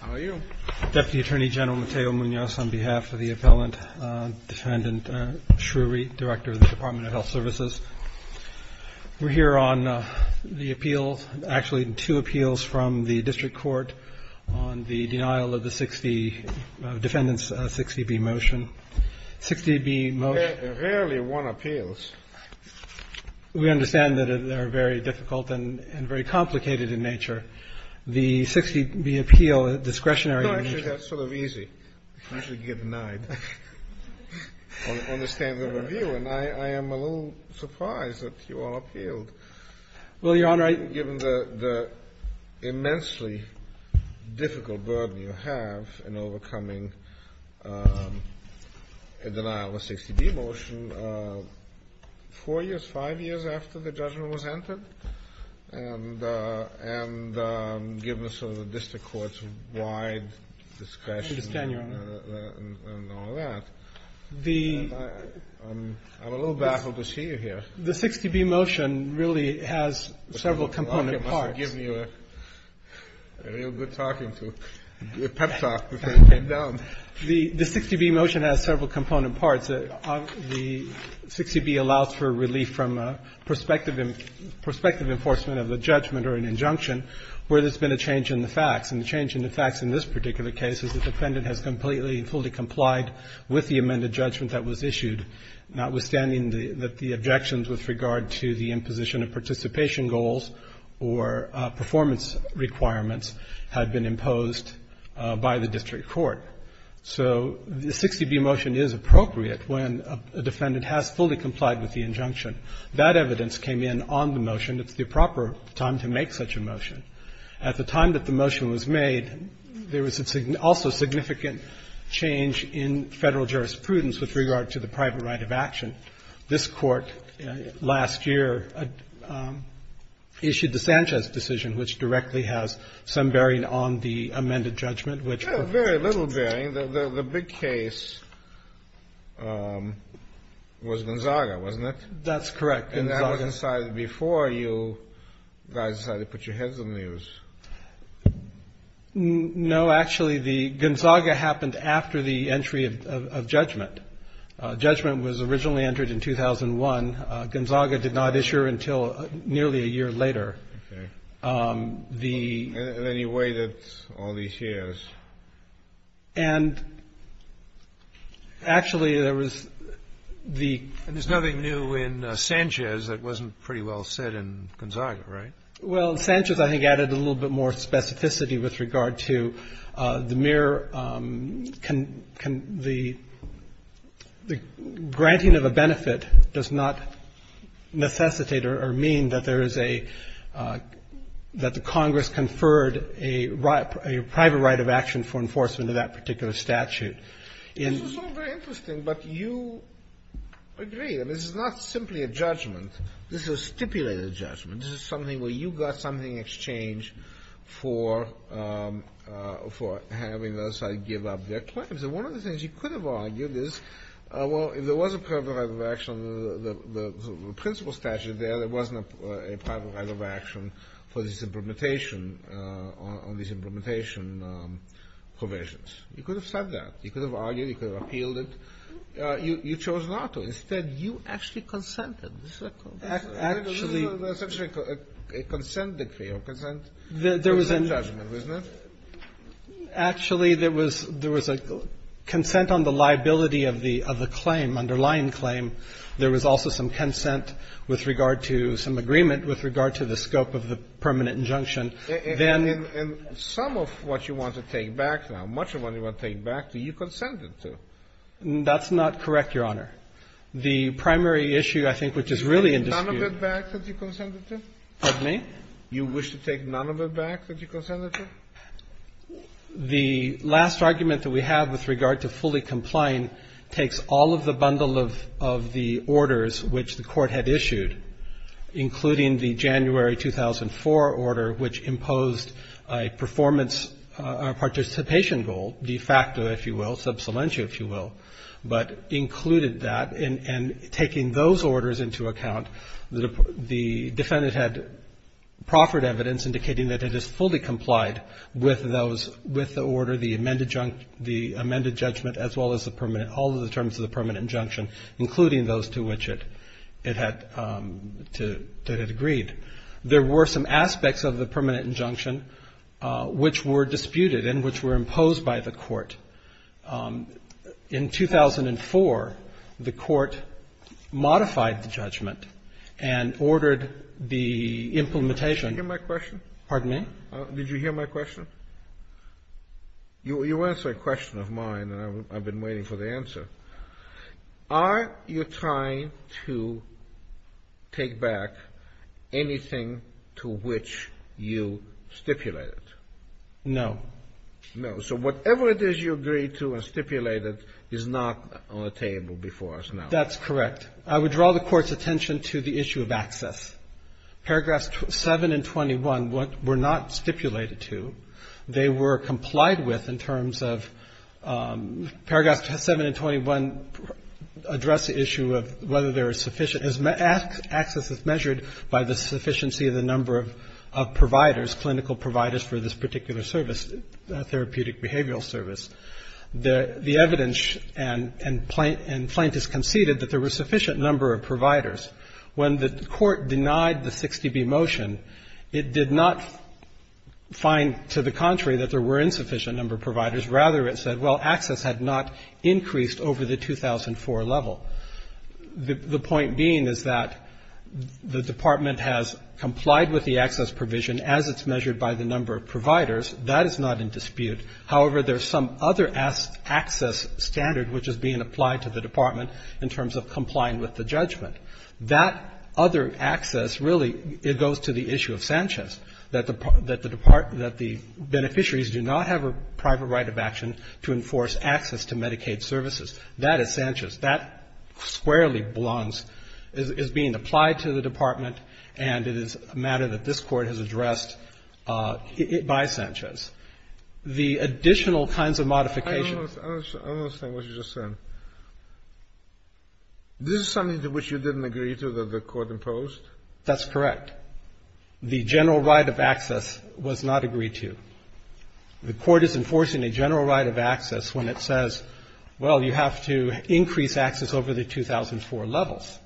How are you? Deputy Attorney General Mateo Munoz on behalf of the appellant, Defendant Shrewy, Director of the Department of Health Services. We're here on the appeals, actually two appeals from the district court on the denial of the 60, defendant's 60B motion. 60B motion. Rarely one appeals. We understand that they are very difficult and very complicated in nature. The 60B appeal, discretionary in nature. No, actually, that's sort of easy. Usually you get denied on the standard review, and I am a little surprised that you all appealed. Well, Your Honor, I Given the immensely difficult burden you have in overcoming a denial of a 60B motion, four years, five years after the judgment was entered? And given sort of the district court's wide discretion. I understand, Your Honor. And all that. The I'm a little baffled to see you here. The 60B motion really has several component parts. I must have given you a real good talking to, a pep talk before you came down. The 60B motion has several component parts. The 60B allows for relief from prospective enforcement of a judgment or an injunction where there's been a change in the facts. And the change in the facts in this particular case is the defendant has completely and fully complied with the amended judgment that was issued, notwithstanding that the objections with regard to the imposition of participation goals or performance requirements had been imposed by the district court. So the 60B motion is appropriate when a defendant has fully complied with the injunction. That evidence came in on the motion. It's the proper time to make such a motion. At the time that the motion was made, there was also significant change in Federal jurisprudence with regard to the private right of action. This Court last year issued the Sanchez decision, which directly has some bearing on the amended judgment, which Very little bearing. The big case was Gonzaga, wasn't it? That's correct. And that was decided before you guys decided to put your heads in the airs. No, actually, the Gonzaga happened after the entry of judgment. Judgment was originally entered in 2001. Gonzaga did not issue until nearly a year later. Okay. In any way that's all these years. And actually, there was the And there's nothing new in Sanchez that wasn't pretty well said in Gonzaga, right? Well, Sanchez, I think, added a little bit more specificity with regard to the mere can the granting of a benefit does not necessitate or mean that there is a, that the Congress conferred a private right of action for enforcement of that particular statute. This is all very interesting, but you agree. I mean, this is not simply a judgment. This is a stipulated judgment. This is something where you got something in exchange for having the other side give up their claims. And one of the things you could have argued is, well, if there was a private right on these implementation provisions, you could have said that. You could have argued. You could have appealed it. You chose not to. Instead, you actually consented. Actually. Actually, there was a consent on the liability of the claim, underlying claim. There was also some consent with regard to, some agreement with regard to the scope of the permanent injunction. And some of what you want to take back now, much of what you want to take back, you consented to. That's not correct, Your Honor. The primary issue, I think, which is really in dispute. You wish to take none of it back that you consented to? Pardon me? You wish to take none of it back that you consented to? The last argument that we have with regard to fully complying takes all of the bundle of the orders which the Court had issued, including the January 2004 order, which imposed a performance participation goal, de facto, if you will, sub salientia, if you will, but included that. And taking those orders into account, the defendant had proffered evidence indicating that it is fully complied with those, with the order, the amended judgment, as well as the permanent, all of the terms of the permanent injunction, including those to which it had, that it agreed. There were some aspects of the permanent injunction which were disputed and which were imposed by the Court. In 2004, the Court modified the judgment and ordered the implementation. Did you hear my question? Pardon me? Did you hear my question? You answered a question of mine, and I've been waiting for the answer. Are you trying to take back anything to which you stipulated? No. No. So whatever it is you agreed to and stipulated is not on the table before us now. That's correct. I would draw the Court's attention to the issue of access. Paragraphs 7 and 21 were not stipulated to. They were complied with in terms of paragraph 7 and 21 address the issue of whether there is sufficient access as measured by the sufficiency of the number of providers, clinical providers for this particular service, therapeutic behavioral service. The evidence and plaintiffs conceded that there were a sufficient number of providers. When the Court denied the 60B motion, it did not find, to the contrary, that there were insufficient number of providers. Rather, it said, well, access had not increased over the 2004 level. The point being is that the Department has complied with the access provision as it's measured by the number of providers. That is not in dispute. However, there's some other access standard which is being applied to the Department in terms of complying with the judgment. That other access, really, it goes to the issue of Sanchez, that the Beneficiaries do not have a private right of action to enforce access to Medicaid services. That is Sanchez. That squarely belongs, is being applied to the Department, and it is a matter that this Court has addressed by Sanchez. The additional kinds of modifications. I don't understand what you're just saying. This is something to which you didn't agree to, that the Court imposed? That's correct. The general right of access was not agreed to. The Court is enforcing a general right of access when it says, well, you have to increase access over the 2004 levels.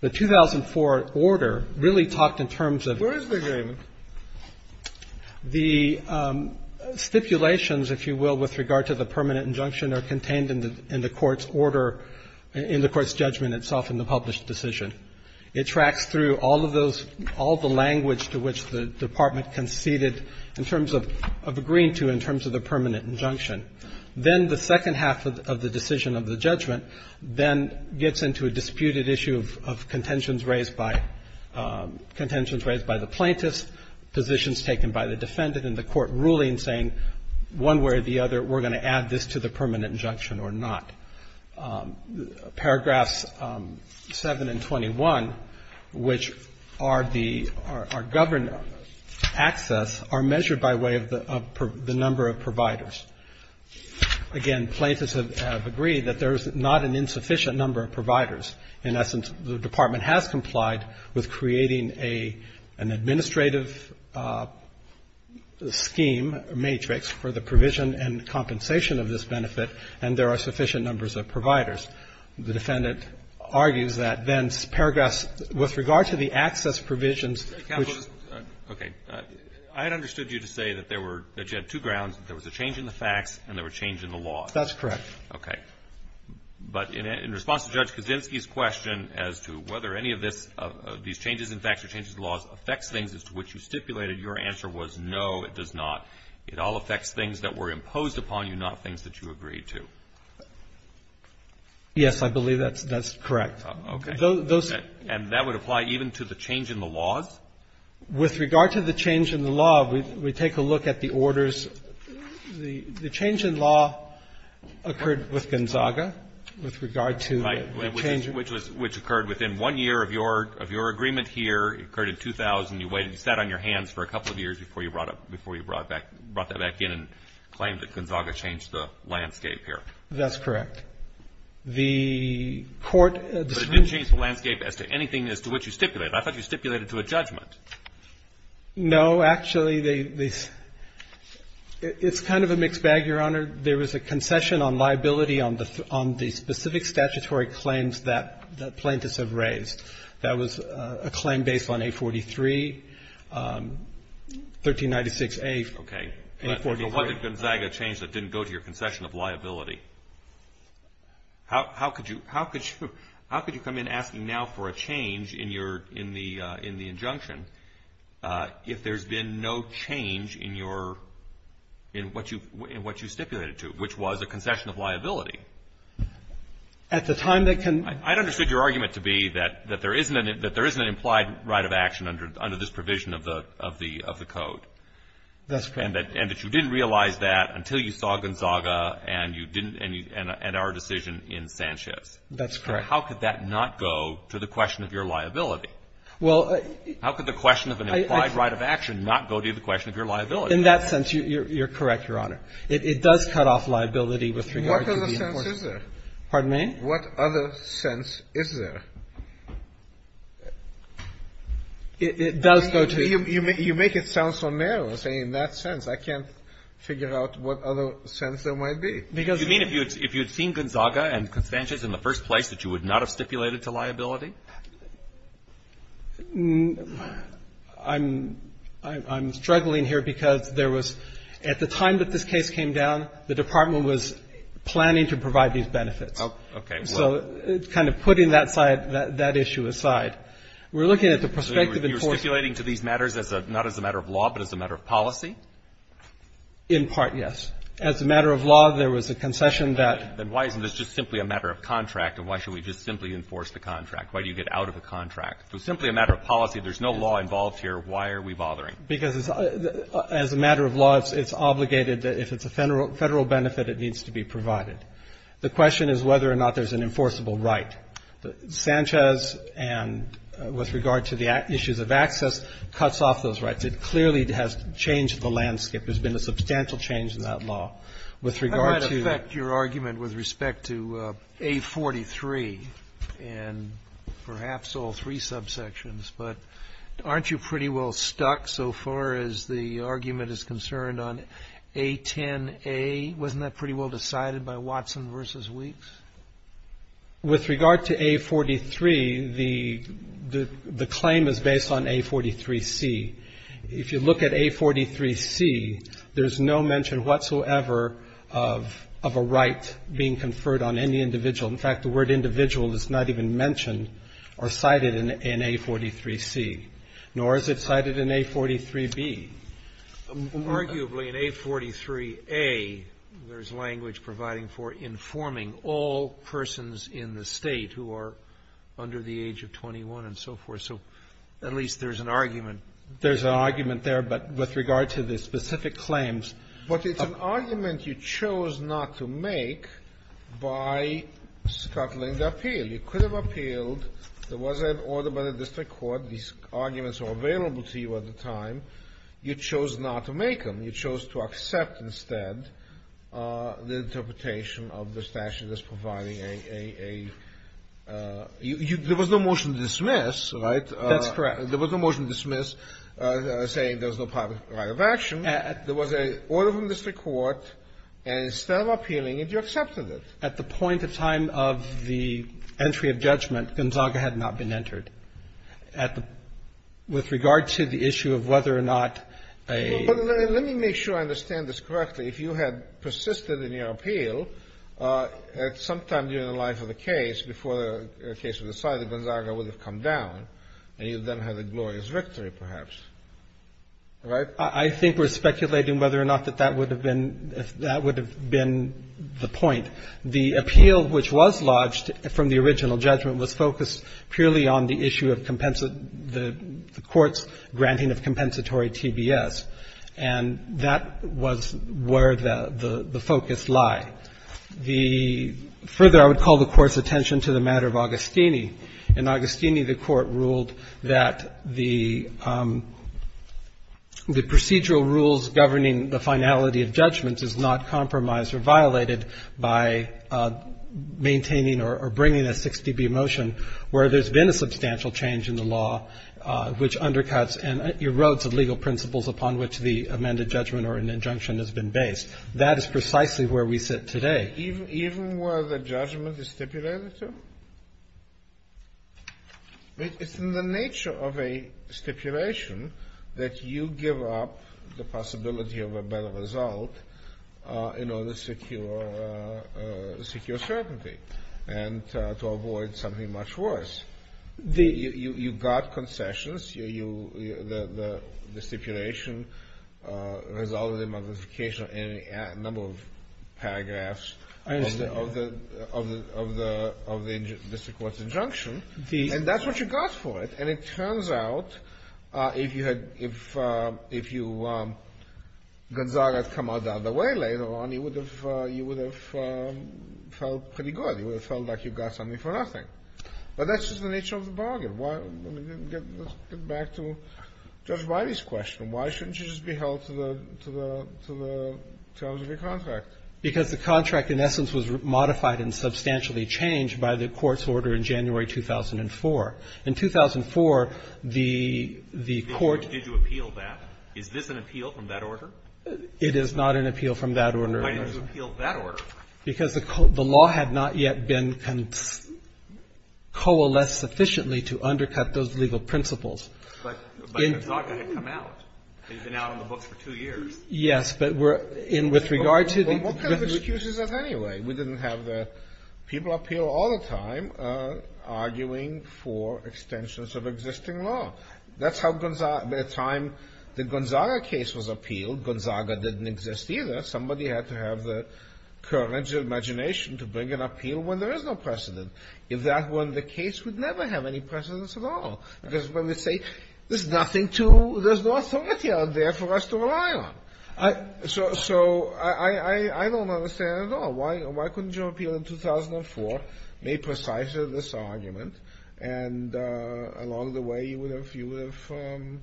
The 2004 order really talked in terms of. Where is the agreement? The stipulations, if you will, with regard to the permanent injunction are contained in the Court's order, in the Court's judgment itself in the published decision. It tracks through all of those, all the language to which the Department conceded in terms of agreeing to in terms of the permanent injunction. Then the second half of the decision of the judgment then gets into a disputed issue of contentions raised by the plaintiffs, positions taken by the defendant, and the Court ruling saying one way or the other, we're going to add this to the permanent injunction or not. Paragraphs 7 and 21, which are governed access, are measured by way of the number of providers. Again, plaintiffs have agreed that there's not an insufficient number of providers and, in essence, the Department has complied with creating an administrative scheme, matrix, for the provision and compensation of this benefit, and there are sufficient numbers of providers. The defendant argues that then paragraphs, with regard to the access provisions, which ---- Roberts. Okay. I had understood you to say that there were two grounds, that there was a change in the facts and there was a change in the law. That's correct. But in response to Judge Kaczynski's question as to whether any of this ---- of these changes in facts or changes in laws affects things as to which you stipulated, your answer was no, it does not. It all affects things that were imposed upon you, not things that you agreed to. Yes, I believe that's correct. Okay. Those ---- And that would apply even to the change in the laws? With regard to the change in the law, we take a look at the orders. The change in law occurred with Gonzaga, with regard to the change in ---- Which occurred within one year of your agreement here. It occurred in 2000. You waited and sat on your hands for a couple of years before you brought that back in and claimed that Gonzaga changed the landscape here. That's correct. The court ---- But it didn't change the landscape as to anything as to which you stipulated. I thought you stipulated to a judgment. No. Actually, they ---- it's kind of a mixed bag, Your Honor. There was a concession on liability on the specific statutory claims that plaintiffs have raised. That was a claim based on 843, 1396A ---- Okay. 843 ---- What did Gonzaga change that didn't go to your concession of liability? How could you come in asking now for a change in the injunction if there's been no change in your ---- in what you stipulated to, which was a concession of liability? At the time, they can ---- I understood your argument to be that there isn't an implied right of action under this provision of the code. That's correct. And that you didn't realize that until you saw Gonzaga and you didn't ---- and our decision in Sanchez. That's correct. How could that not go to the question of your liability? Well, I ---- How could the question of an implied right of action not go to the question of your liability? In that sense, you're correct, Your Honor. It does cut off liability with regard to the enforcement. What other sense is there? Pardon me? What other sense is there? It does go to ---- You make it sound so narrow, saying in that sense. I can't figure out what other sense there might be. Because ---- You mean if you had seen Gonzaga and Sanchez in the first place that you would not have stipulated to liability? I'm struggling here because there was ---- at the time that this case came down, the Department was planning to provide these benefits. Okay. So it's kind of putting that side, that issue aside. We're looking at the prospective enforcement ---- So you're stipulating to these matters as a ---- not as a matter of law, but as a matter of policy? In part, yes. As a matter of law, there was a concession that ---- Then why isn't this just simply a matter of contract, and why should we just simply enforce the contract? Why do you get out of a contract? It was simply a matter of policy. There's no law involved here. Why are we bothering? Because as a matter of law, it's obligated that if it's a Federal benefit, it needs to be provided. The question is whether or not there's an enforceable right. Sanchez, with regard to the issues of access, cuts off those rights. It clearly has changed the landscape. There's been a substantial change in that law. With regard to ---- How might that affect your argument with respect to A43 and perhaps all three subsections? But aren't you pretty well stuck so far as the argument is concerned on A10A? Wasn't that pretty well decided by Watson v. Weeks? With regard to A43, the claim is based on A43C. If you look at A43C, there's no mention whatsoever of a right being conferred on any individual. In fact, the word individual is not even mentioned or cited in A43C, nor is it cited in A43B. Arguably, in A43A, there's language providing for informing all persons in the State who are under the age of 21 and so forth. So at least there's an argument. There's an argument there, but with regard to the specific claims ---- But it's an argument you chose not to make by scuttling the appeal. You could have appealed. There was an order by the district court. These arguments were available to you at the time. You chose not to make them. You chose to accept instead the interpretation of the statute as providing a ---- There was no motion to dismiss, right? That's correct. There was no motion to dismiss saying there's no private right of action. There was an order from the district court, and instead of appealing it, you accepted it. At the point of time of the entry of judgment, Gonzaga had not been entered. With regard to the issue of whether or not a ---- But let me make sure I understand this correctly. If you had persisted in your appeal at some time during the life of the case before the case was decided, Gonzaga would have come down, and you then had a glorious victory, perhaps. Right? I think we're speculating whether or not that that would have been the point. The appeal which was lodged from the original judgment was focused purely on the issue of the court's granting of compensatory TBS. And that was where the focus lied. Further, I would call the Court's attention to the matter of Agostini. In Agostini, the Court ruled that the procedural rules governing the finality of judgment is not compromised or violated by maintaining or bringing a 6dB motion where there's been a substantial change in the law which undercuts and erodes the legal principles upon which the amended judgment or an injunction has been based. That is precisely where we sit today. Even where the judgment is stipulated to? It's in the nature of a stipulation that you give up the possibility of a better result in order to secure certainty and to avoid something much worse. You got concessions. The stipulation resulted in modification of a number of paragraphs of the district court's injunction. And that's what you got for it. And it turns out if Gonzaga had come out the other way later on, you would have felt pretty good. You would have felt like you got something for nothing. But that's just the nature of the bargain. Let's get back to Judge Whitey's question. Why shouldn't you just be held to the terms of your contract? Because the contract in essence was modified and substantially changed by the Court's order in January 2004. In 2004, the Court ---- Did you appeal that? Is this an appeal from that order? It is not an appeal from that order. Why didn't you appeal that order? Because the law had not yet been coalesced sufficiently to undercut those legal principles. But Gonzaga had come out. He'd been out on the books for two years. Yes, but with regard to the ---- Well, what kind of excuse is that anyway? We didn't have the people appeal all the time arguing for extensions of existing law. That's how by the time the Gonzaga case was appealed, Gonzaga didn't exist either. Somebody had to have the courage and imagination to bring an appeal when there is no precedent. If that were the case, we'd never have any precedence at all. Because when we say there's nothing to ---- there's no authority out there for us to rely on. So I don't understand at all. Why couldn't you appeal in 2004, made precise of this argument, and along the way, you would have ----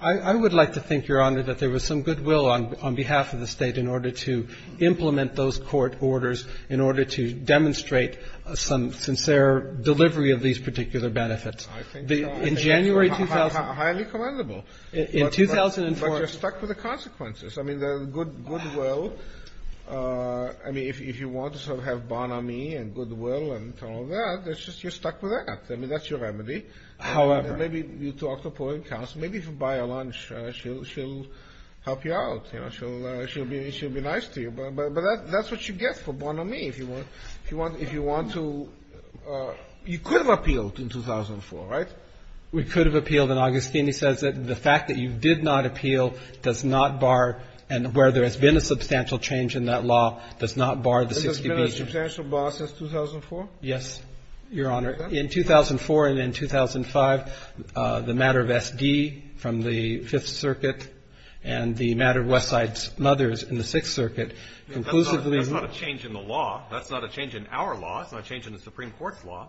I would like to think, Your Honor, that there was some goodwill on behalf of the State in order to implement those court orders, in order to demonstrate some sincere delivery of these particular benefits. I think so. In January 2000 ---- Highly commendable. In 2004 ---- But you're stuck with the consequences. I mean, the goodwill. I mean, if you want to sort of have Bon Ami and goodwill and all that, you're stuck with that. I mean, that's your remedy. However ---- Maybe you talk to a polling council. Maybe if you buy her lunch, she'll help you out. She'll be nice to you. But that's what you get for Bon Ami if you want to ---- You could have appealed in 2004, right? We could have appealed. And Augustini says that the fact that you did not appeal does not bar ---- And where there has been a substantial change in that law does not bar the 60B. Has there been a substantial bar since 2004? Yes, Your Honor. In 2004 and in 2005, the matter of S.D. from the Fifth Circuit and the matter of Westside's Mothers in the Sixth Circuit conclusively ---- That's not a change in the law. That's not a change in our law. It's not a change in the Supreme Court's law.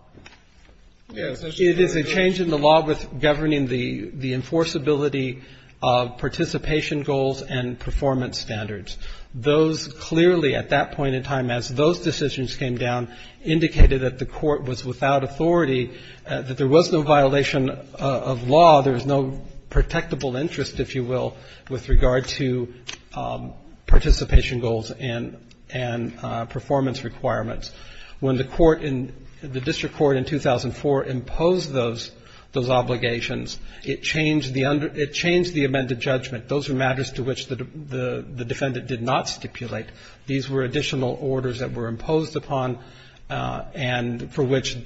Yes. It is a change in the law with governing the enforceability of participation goals and performance standards. Those clearly, at that point in time, as those decisions came down, indicated that the court was without authority, that there was no violation of law, there was no protectable interest, if you will, with regard to participation goals and performance requirements. When the court in the district court in 2004 imposed those obligations, it changed the amended judgment. Those were matters to which the defendant did not stipulate. These were additional orders that were imposed upon and for which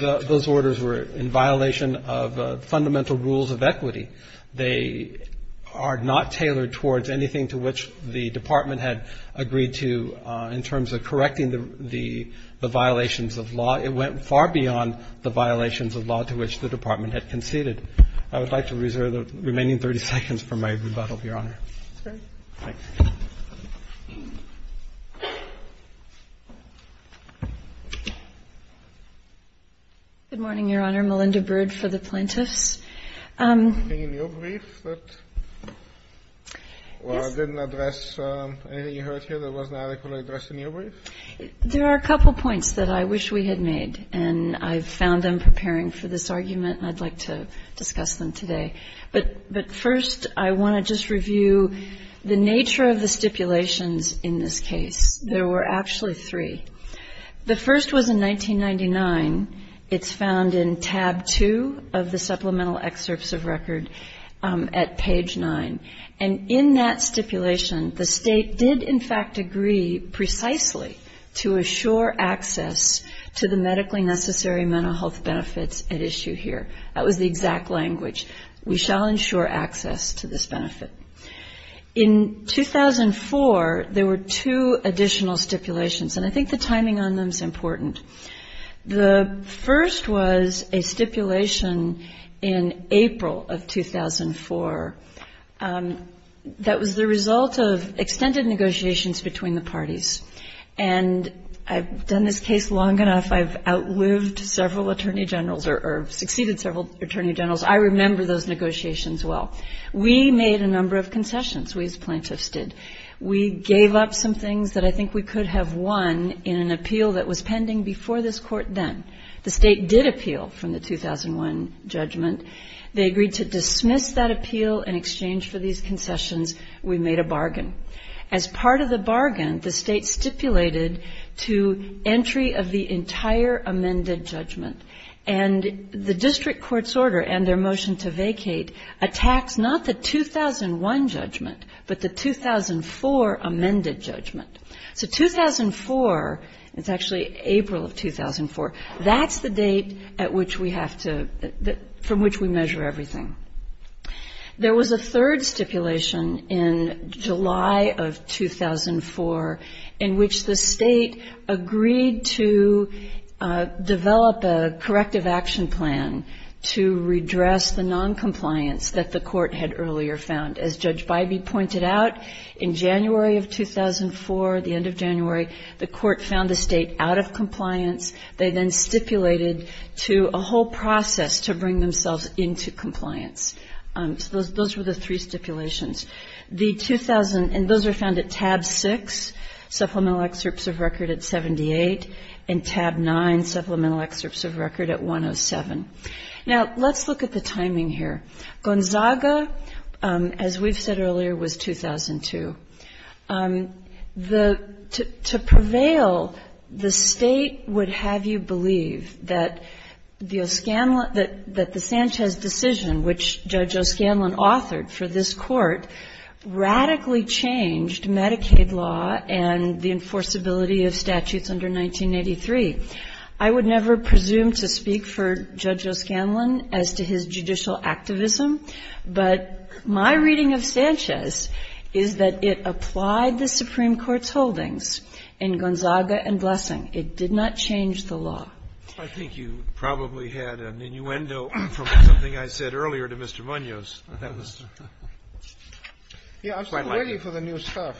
those orders were in violation of fundamental rules of equity. They are not tailored towards anything to which the Department had agreed to in terms of correcting the violations of law. It went far beyond the violations of law to which the Department had conceded. I would like to reserve the remaining 30 seconds for my rebuttal, Your Honor. Thanks. Good morning, Your Honor. Melinda Bird for the plaintiffs. Anything in your brief that didn't address anything you heard here that wasn't adequately addressed in your brief? There are a couple points that I wish we had made, and I've found them preparing for this argument. And I'd like to discuss them today. But first, I want to just review the nature of the stipulations in this case. There were actually three. The first was in 1999. It's found in tab two of the supplemental excerpts of record at page nine. And in that stipulation, the State did, in fact, agree precisely to assure access to the medically necessary mental health benefits at issue here. That was the exact language. We shall ensure access to this benefit. In 2004, there were two additional stipulations, and I think the timing on them is important. The first was a stipulation in April of 2004 that was the result of extended negotiations between the parties. And I've done this case long enough. I've outlived several attorney generals or succeeded several attorney generals. I remember those negotiations well. We made a number of concessions, we as plaintiffs did. We gave up some things that I think we could have won in an appeal that was pending before this Court then. The State did appeal from the 2001 judgment. They agreed to dismiss that appeal in exchange for these concessions. We made a bargain. As part of the bargain, the State stipulated to entry of the entire amended judgment. And the district court's order and their motion to vacate attacks not the 2001 judgment but the 2004 amended judgment. So 2004, it's actually April of 2004, that's the date at which we have to, from which we measure everything. There was a third stipulation in July of 2004 in which the State agreed to develop a corrective action plan to redress the noncompliance that the Court had earlier found. As Judge Bybee pointed out, in January of 2004, the end of January, the Court found the State out of compliance. They then stipulated to a whole process to bring themselves into compliance. So those were the three stipulations. And those were found at tab 6, supplemental excerpts of record at 78, and tab 9, supplemental excerpts of record at 107. Now let's look at the timing here. Gonzaga, as we've said earlier, was 2002. To prevail, the State would have you believe that the Sanchez decision, which Judge O'Scanlan authored for this Court, radically changed Medicaid law and the enforceability of statutes under 1983. I would never presume to speak for Judge O'Scanlan as to his judicial activism, but my reading of Sanchez is that it applied the Supreme Court's holdings in Gonzaga and Blessing. It did not change the law. Kennedy. I think you probably had an innuendo from something I said earlier to Mr. Munoz. That was the point. I'm still waiting for the new stuff.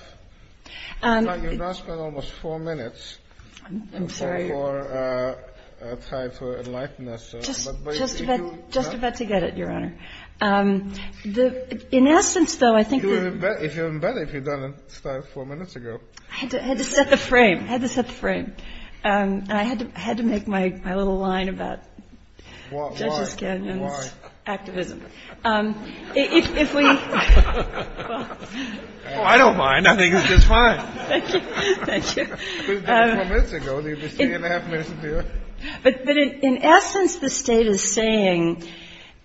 You've now spent almost four minutes. I'm sorry. I'm looking for time for enlightenment. Just about to get it, Your Honor. In essence, though, I think that... You would have been better if you had done it four minutes ago. I had to set the frame. I had to set the frame. I had to make my little line about Judge O'Scanlan's activism. Why? If we... Oh, I don't mind. I think it's just fine. Thank you. Thank you. You did it four minutes ago. You have three and a half minutes to do it. But in essence, the State is saying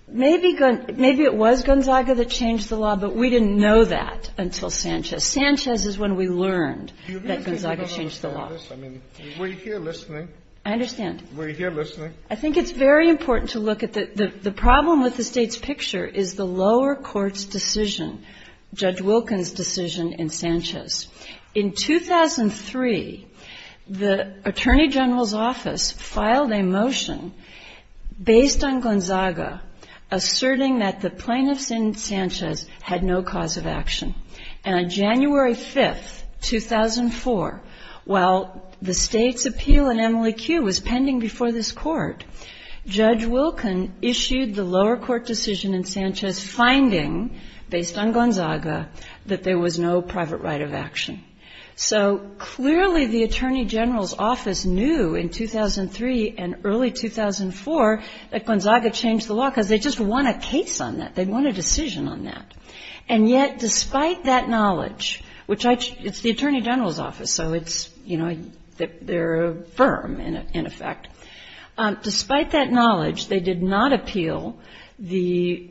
maybe it was Gonzaga that changed the law, but we didn't know that until Sanchez. Sanchez is when we learned that Gonzaga changed the law. Were you here listening? I understand. Were you here listening? I think it's very important to look at the problem with the State's picture is the lower court's decision, Judge Wilkin's decision in Sanchez. In 2003, the Attorney General's Office filed a motion based on Gonzaga asserting that the plaintiffs in Sanchez had no cause of action. And on January 5th, 2004, while the State's appeal in Emily Q was pending before this Court, Judge Wilkin issued the lower court decision in Sanchez finding, based on Gonzaga, that there was no private right of action. So clearly the Attorney General's Office knew in 2003 and early 2004 that Gonzaga changed the law because they just won a case on that. They won a decision on that. And yet, despite that knowledge, which it's the Attorney General's Office, so it's, you know, they're a firm in effect. Despite that knowledge, they did not appeal the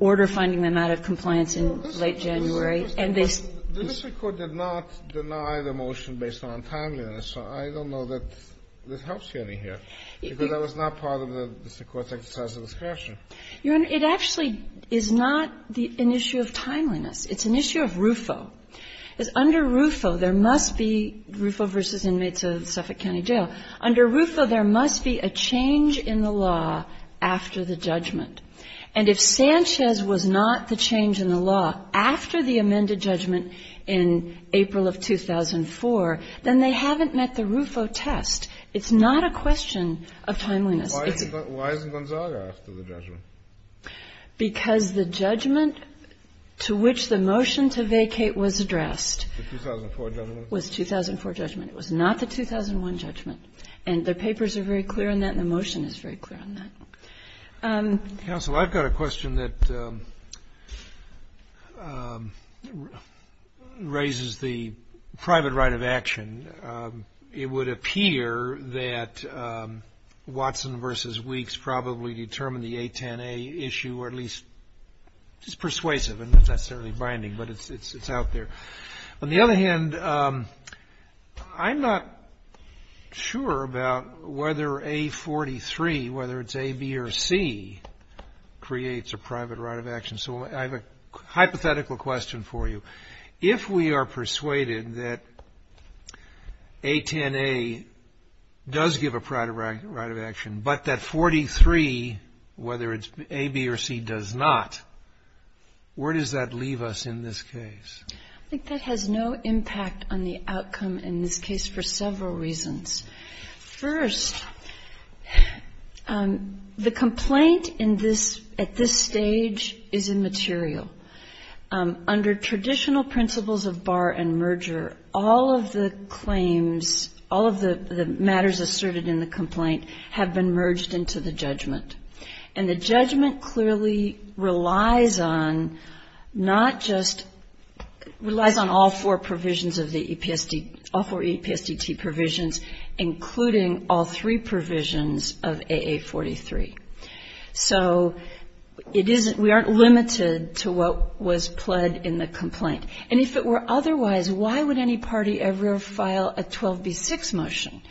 order finding them out of compliance in late January, and they said this. The district court did not deny the motion based on untimeliness. So I don't know that this helps you any here, because I was not part of the district court's exercise of discretion. Your Honor, it actually is not an issue of timeliness. It's an issue of RUFO. Under RUFO, there must be RUFO v. Inmates of Suffolk County Jail. Under RUFO, there must be a change in the law after the judgment. And if Sanchez was not the change in the law after the amended judgment in April of 2004, then they haven't met the RUFO test. It's not a question of timeliness. Why isn't Gonzaga after the judgment? Because the judgment to which the motion to vacate was addressed was 2004 judgment. It was not the 2001 judgment. And the papers are very clear on that, and the motion is very clear on that. Counsel, I've got a question that raises the private right of action. It would appear that Watson v. Weeks probably determined the 810A issue, or at least it's persuasive. It's not necessarily binding, but it's out there. On the other hand, I'm not sure about whether A43, whether it's A, B, or C, creates a private right of action. So I have a hypothetical question for you. If we are persuaded that 810A does give a private right of action, but that 43, whether it's A, B, or C, does not, where does that leave us in this case? I think that has no impact on the outcome in this case for several reasons. First, the complaint at this stage is immaterial. Under traditional principles of bar and merger, all of the claims, all of the matters asserted in the complaint have been merged into the judgment. And the judgment clearly relies on not just, relies on all four provisions of the EPSD, all four EPSDT provisions, including all three provisions of AA43. So it isn't, we aren't limited to what was pled in the complaint. And if it were otherwise, why would any party ever file a 12B6 motion?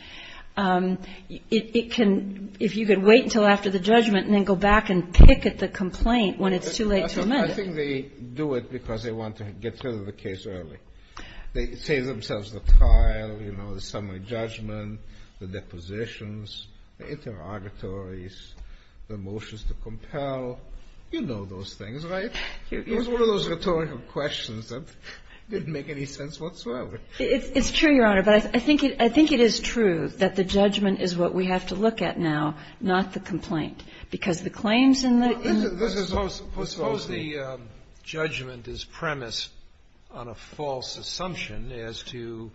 It can, if you could wait until after the judgment and then go back and pick at the complaint when it's too late to amend it. I think they do it because they want to get through the case early. They save themselves the trial, you know, the summary judgment, the depositions, the interrogatories, the motions to compel. You know those things, right? It was one of those rhetorical questions that didn't make any sense whatsoever. It's true, Your Honor. But I think it is true that the judgment is what we have to look at now, not the complaint, because the claims in the ---- Suppose the judgment is premised on a false assumption as to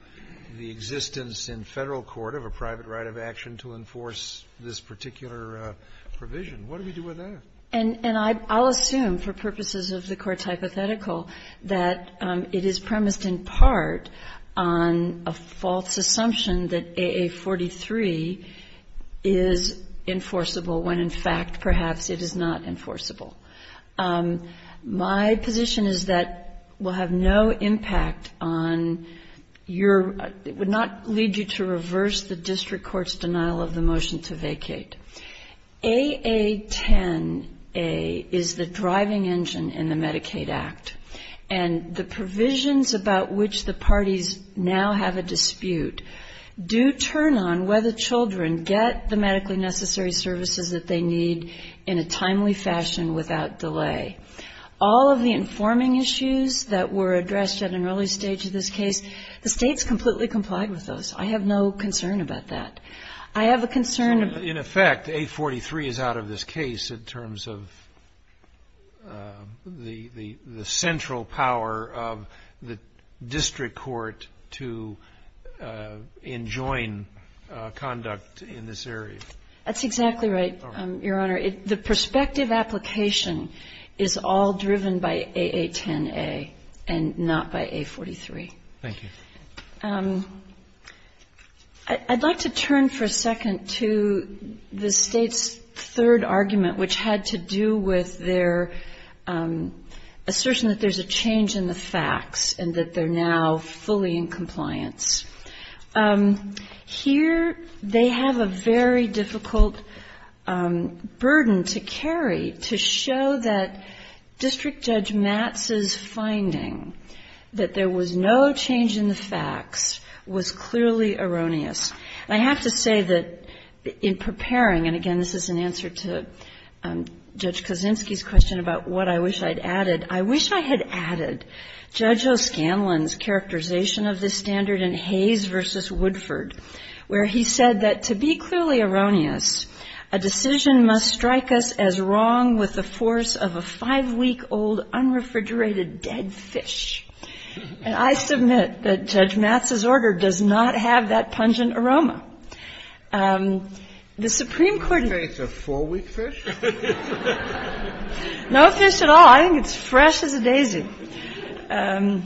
the existence in Federal court of a private right of action to enforce this particular provision. What do we do with that? And I'll assume, for purposes of the Court's hypothetical, that it is premised in part on a false assumption that AA43 is enforceable when, in fact, perhaps it is not enforceable. My position is that will have no impact on your ---- would not lead you to reverse the district court's denial of the motion to vacate. AA10A is the driving engine in the Medicaid Act. And the provisions about which the parties now have a dispute do turn on whether children get the medically necessary services that they need in a timely fashion without delay. All of the informing issues that were addressed at an early stage of this case, the States completely complied with those. I have no concern about that. I have a concern ---- In effect, AA43 is out of this case in terms of the central power of the district court to enjoin conduct in this area. That's exactly right, Your Honor. The prospective application is all driven by AA10A and not by A43. Thank you. I'd like to turn for a second to the States' third argument, which had to do with their assertion that there's a change in the facts and that they're now fully in compliance. Here they have a very difficult burden to carry to show that District Judge Matz's finding that there was no change in the facts was clearly erroneous. And I have to say that in preparing, and again, this is an answer to Judge Kaczynski's question about what I wish I'd added. I wish I had added Judge O'Scanlan's characterization of this standard in Hayes v. Woodford, where he said that to be clearly erroneous, a decision must strike us as wrong with the force of a five-week-old unrefrigerated dead fish. And I submit that Judge Matz's order does not have that pungent aroma. The Supreme Court raised the case of four-week fish. No fish at all. I think it's fresh as a daisy. In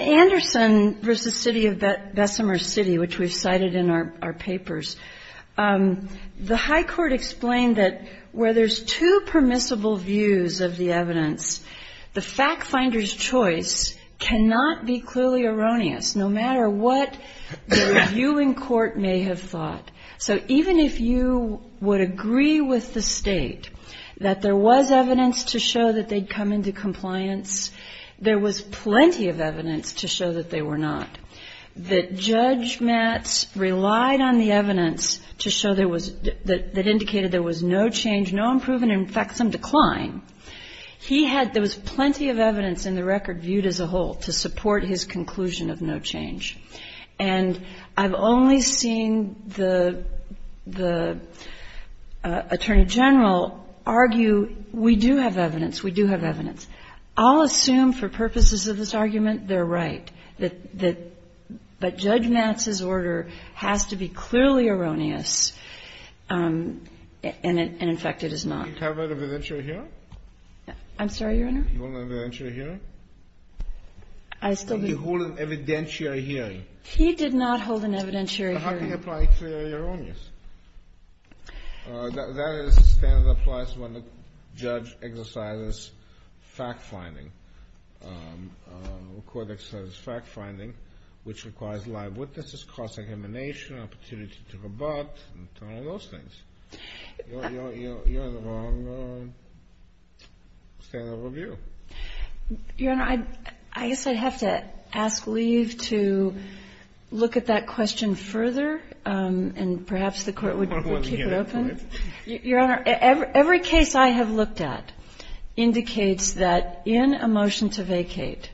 Anderson v. City of Bessemer City, which we've cited in our papers, the high court explained that where there's two permissible views of the evidence, the fact that the fact finder's choice cannot be clearly erroneous, no matter what the viewing court may have thought. So even if you would agree with the State that there was evidence to show that they'd come into compliance, there was plenty of evidence to show that they were not. That Judge Matz relied on the evidence to show there was – that indicated there was no change, no improvement, in fact, some decline. He had – there was plenty of evidence in the record viewed as a whole to support his conclusion of no change. And I've only seen the Attorney General argue, we do have evidence, we do have evidence. I'll assume for purposes of this argument they're right, that – but Judge Matz's order has to be clearly erroneous, and in fact it is not. Have you covered evidentiary hearing? I'm sorry, Your Honor? You hold an evidentiary hearing? I still do. You hold an evidentiary hearing. He did not hold an evidentiary hearing. How do you apply a clear erroneous? That is a standard that applies when the judge exercises fact-finding, when a court exercises fact-finding, which requires live witnesses, cross-examination, opportunity to rebut, and those things. You have the wrong standard of review. Your Honor, I guess I'd have to ask Lee to look at that question further, and perhaps the Court would keep it open. Your Honor, every case I have looked at indicates that in a motion to vacate,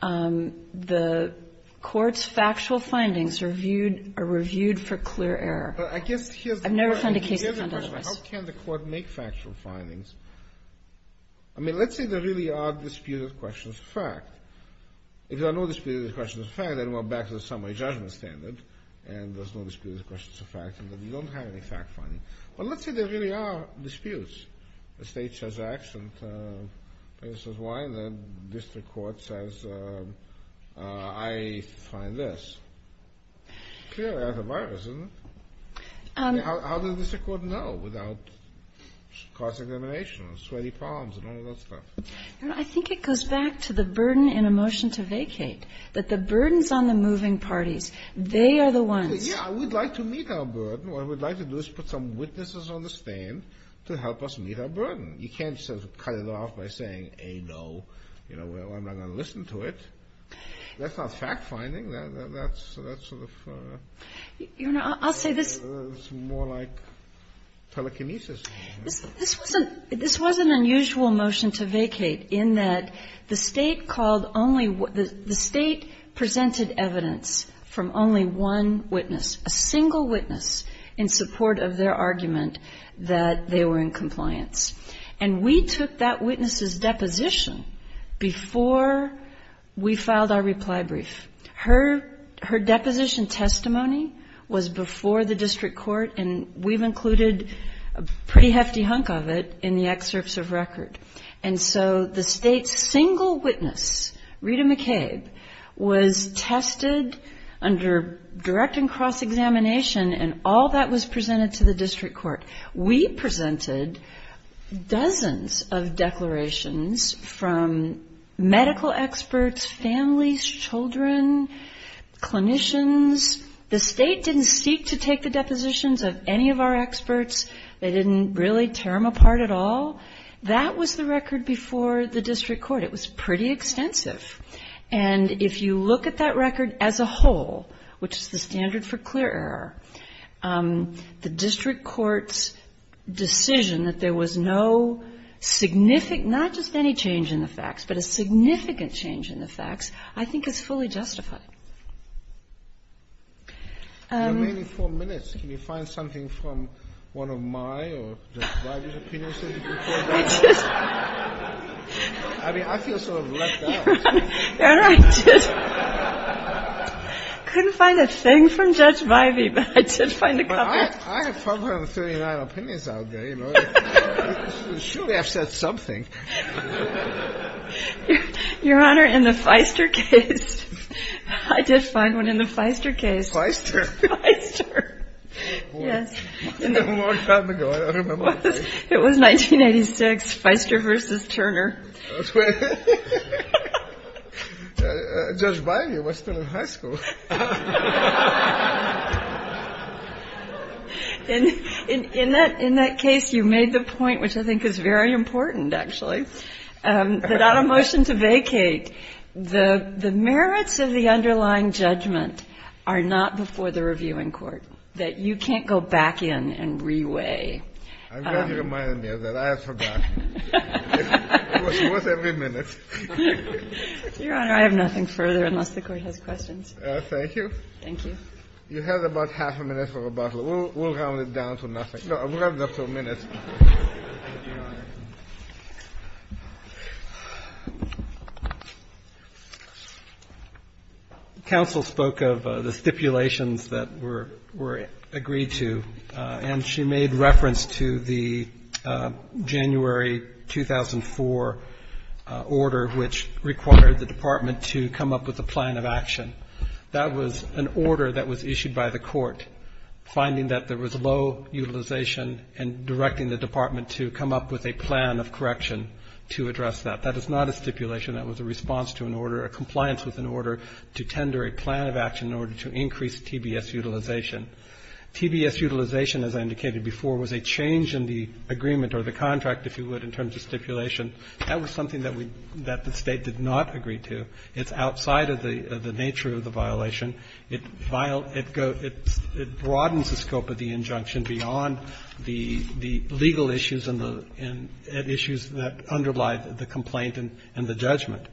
the Court's factual findings are reviewed for clear error. I guess here's the question. I've never found a case that's done this. Here's the question. How can the Court make factual findings? I mean, let's say there really are disputed questions of fact. If there are no disputed questions of fact, then we're back to the summary judgment standard, and there's no disputed questions of fact, and then you don't have any fact-finding. But let's say there really are disputes. The State says X, and the District Court says I find this. Clear error of the virus, isn't it? How does the District Court know without cross-examination and sweaty palms and all that stuff? Your Honor, I think it goes back to the burden in a motion to vacate, that the burdens on the moving parties, they are the ones. Yeah, we'd like to meet our burden. What we'd like to do is put some witnesses on the stand to help us meet our burden. You can't just cut it off by saying A, no. I'm not going to listen to it. That's not fact-finding. That's sort of... Your Honor, I'll say this. It's more like telekinesis. This was an unusual motion to vacate in that the State called only the State presented evidence from only one witness, a single witness, in support of their argument that they were in compliance. And we took that witness's deposition before we filed our reply brief. Her deposition testimony was before the District Court, and we've included a pretty hefty hunk of it in the excerpts of record. And so the State's single witness, Rita McCabe, was tested under direct and cross-examination, and all that was presented to the District Court. We presented dozens of declarations from medical experts, families, children, clinicians. The State didn't seek to take the depositions of any of our experts. They didn't really tear them apart at all. That was the record before the District Court. It was pretty extensive. And if you look at that record as a whole, which is the standard for clear error, the District Court's decision that there was no significant, not just any change in the facts, but a significant change in the facts, I think is fully justified. Kennedy. You have maybe four minutes. Can you find something from one of my or Judge Vivey's opinions that you can pull out? I mean, I feel sort of left out. Your Honor, I couldn't find a thing from Judge Vivey, but I did find a couple. I have 439 opinions out there. You know, she would have said something. Your Honor, in the Feister case, I did find one in the Feister case. Feister? Feister. Yes. A long time ago. I don't remember. It was 1986, Feister v. Turner. Judge Vivey was still in high school. In that case, you made the point, which I think is very important, actually, that on a motion to vacate, the merits of the underlying judgment are not before the reviewing court, that you can't go back in and reweigh. I'm glad you reminded me of that. I have forgotten. It was every minute. Your Honor, I have nothing further unless the Court has questions. Thank you. Thank you. You have about half a minute for rebuttal. We'll round it down to nothing. No, we'll have a couple of minutes. Thank you, Your Honor. Counsel spoke of the stipulations that were agreed to, and she made reference to the January 2004 order, which required the Department to come up with a plan of action. That was an order that was issued by the Court, finding that there was low utilization and directing the Department to come up with a plan of correction to address that. That is not a stipulation. That was a response to an order, a compliance with an order, to tender a plan of action in order to increase TBS utilization. TBS utilization, as I indicated before, was a change in the agreement or the contract, if you would, in terms of stipulation. That was something that the State did not agree to. It's outside of the nature of the violation. It broadens the scope of the injunction beyond the legal issues and issues that underlie the complaint and the judgment.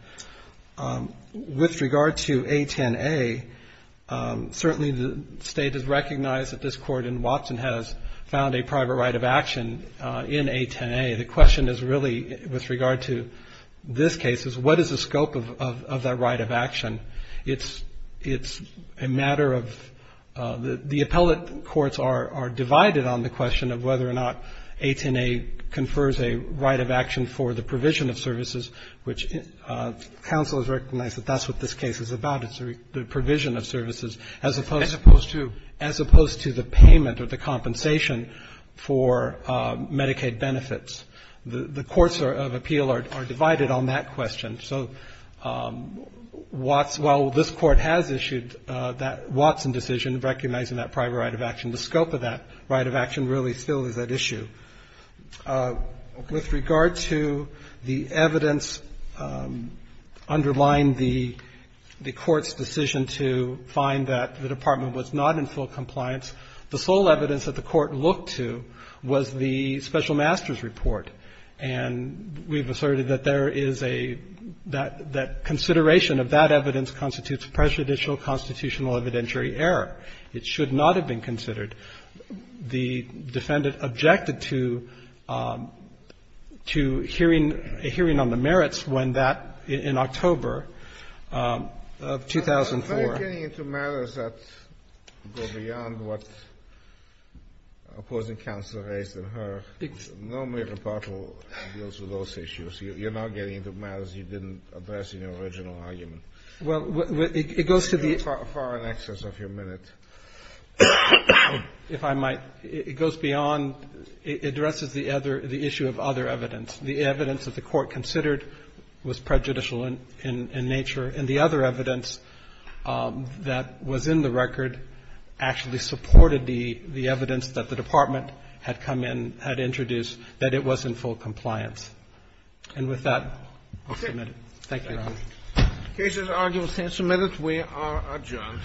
With regard to A-10-A, certainly the State has recognized that this Court in Watson has found a private right of action in A-10-A. The question is really, with regard to this case, is what is the scope of that right of action? It's a matter of the appellate courts are divided on the question of whether or not A-10-A confers a right of action for the provision of services, which counsel has recognized that that's what this case is about. It's the provision of services as opposed to the payment or the compensation for Medicaid benefits. The courts of appeal are divided on that question. So while this Court has issued that Watson decision recognizing that private right of action, the scope of that right of action really still is at issue. With regard to the evidence underlying the Court's decision to find that the department was not in full compliance, the sole evidence that the Court looked to was the special master's report. And we've asserted that there is a that consideration of that evidence constitutes prejudicial constitutional evidentiary error. It should not have been considered. The defendant objected to hearing on the merits when that, in October of 2004. Kennedy. Are you getting into matters that go beyond what opposing counsel raised in her? Normally, rebuttal deals with those issues. You're not getting into matters you didn't address in your original argument. Well, it goes to the ---- You're far in excess of your minute. If I might, it goes beyond, it addresses the issue of other evidence. The evidence that the Court considered was prejudicial in nature, and the other evidence that was in the record actually supported the evidence that the department had come in, had introduced, that it was in full compliance. And with that, I'll submit it. Thank you, Your Honor. The case is arguably submitted. We are adjourned.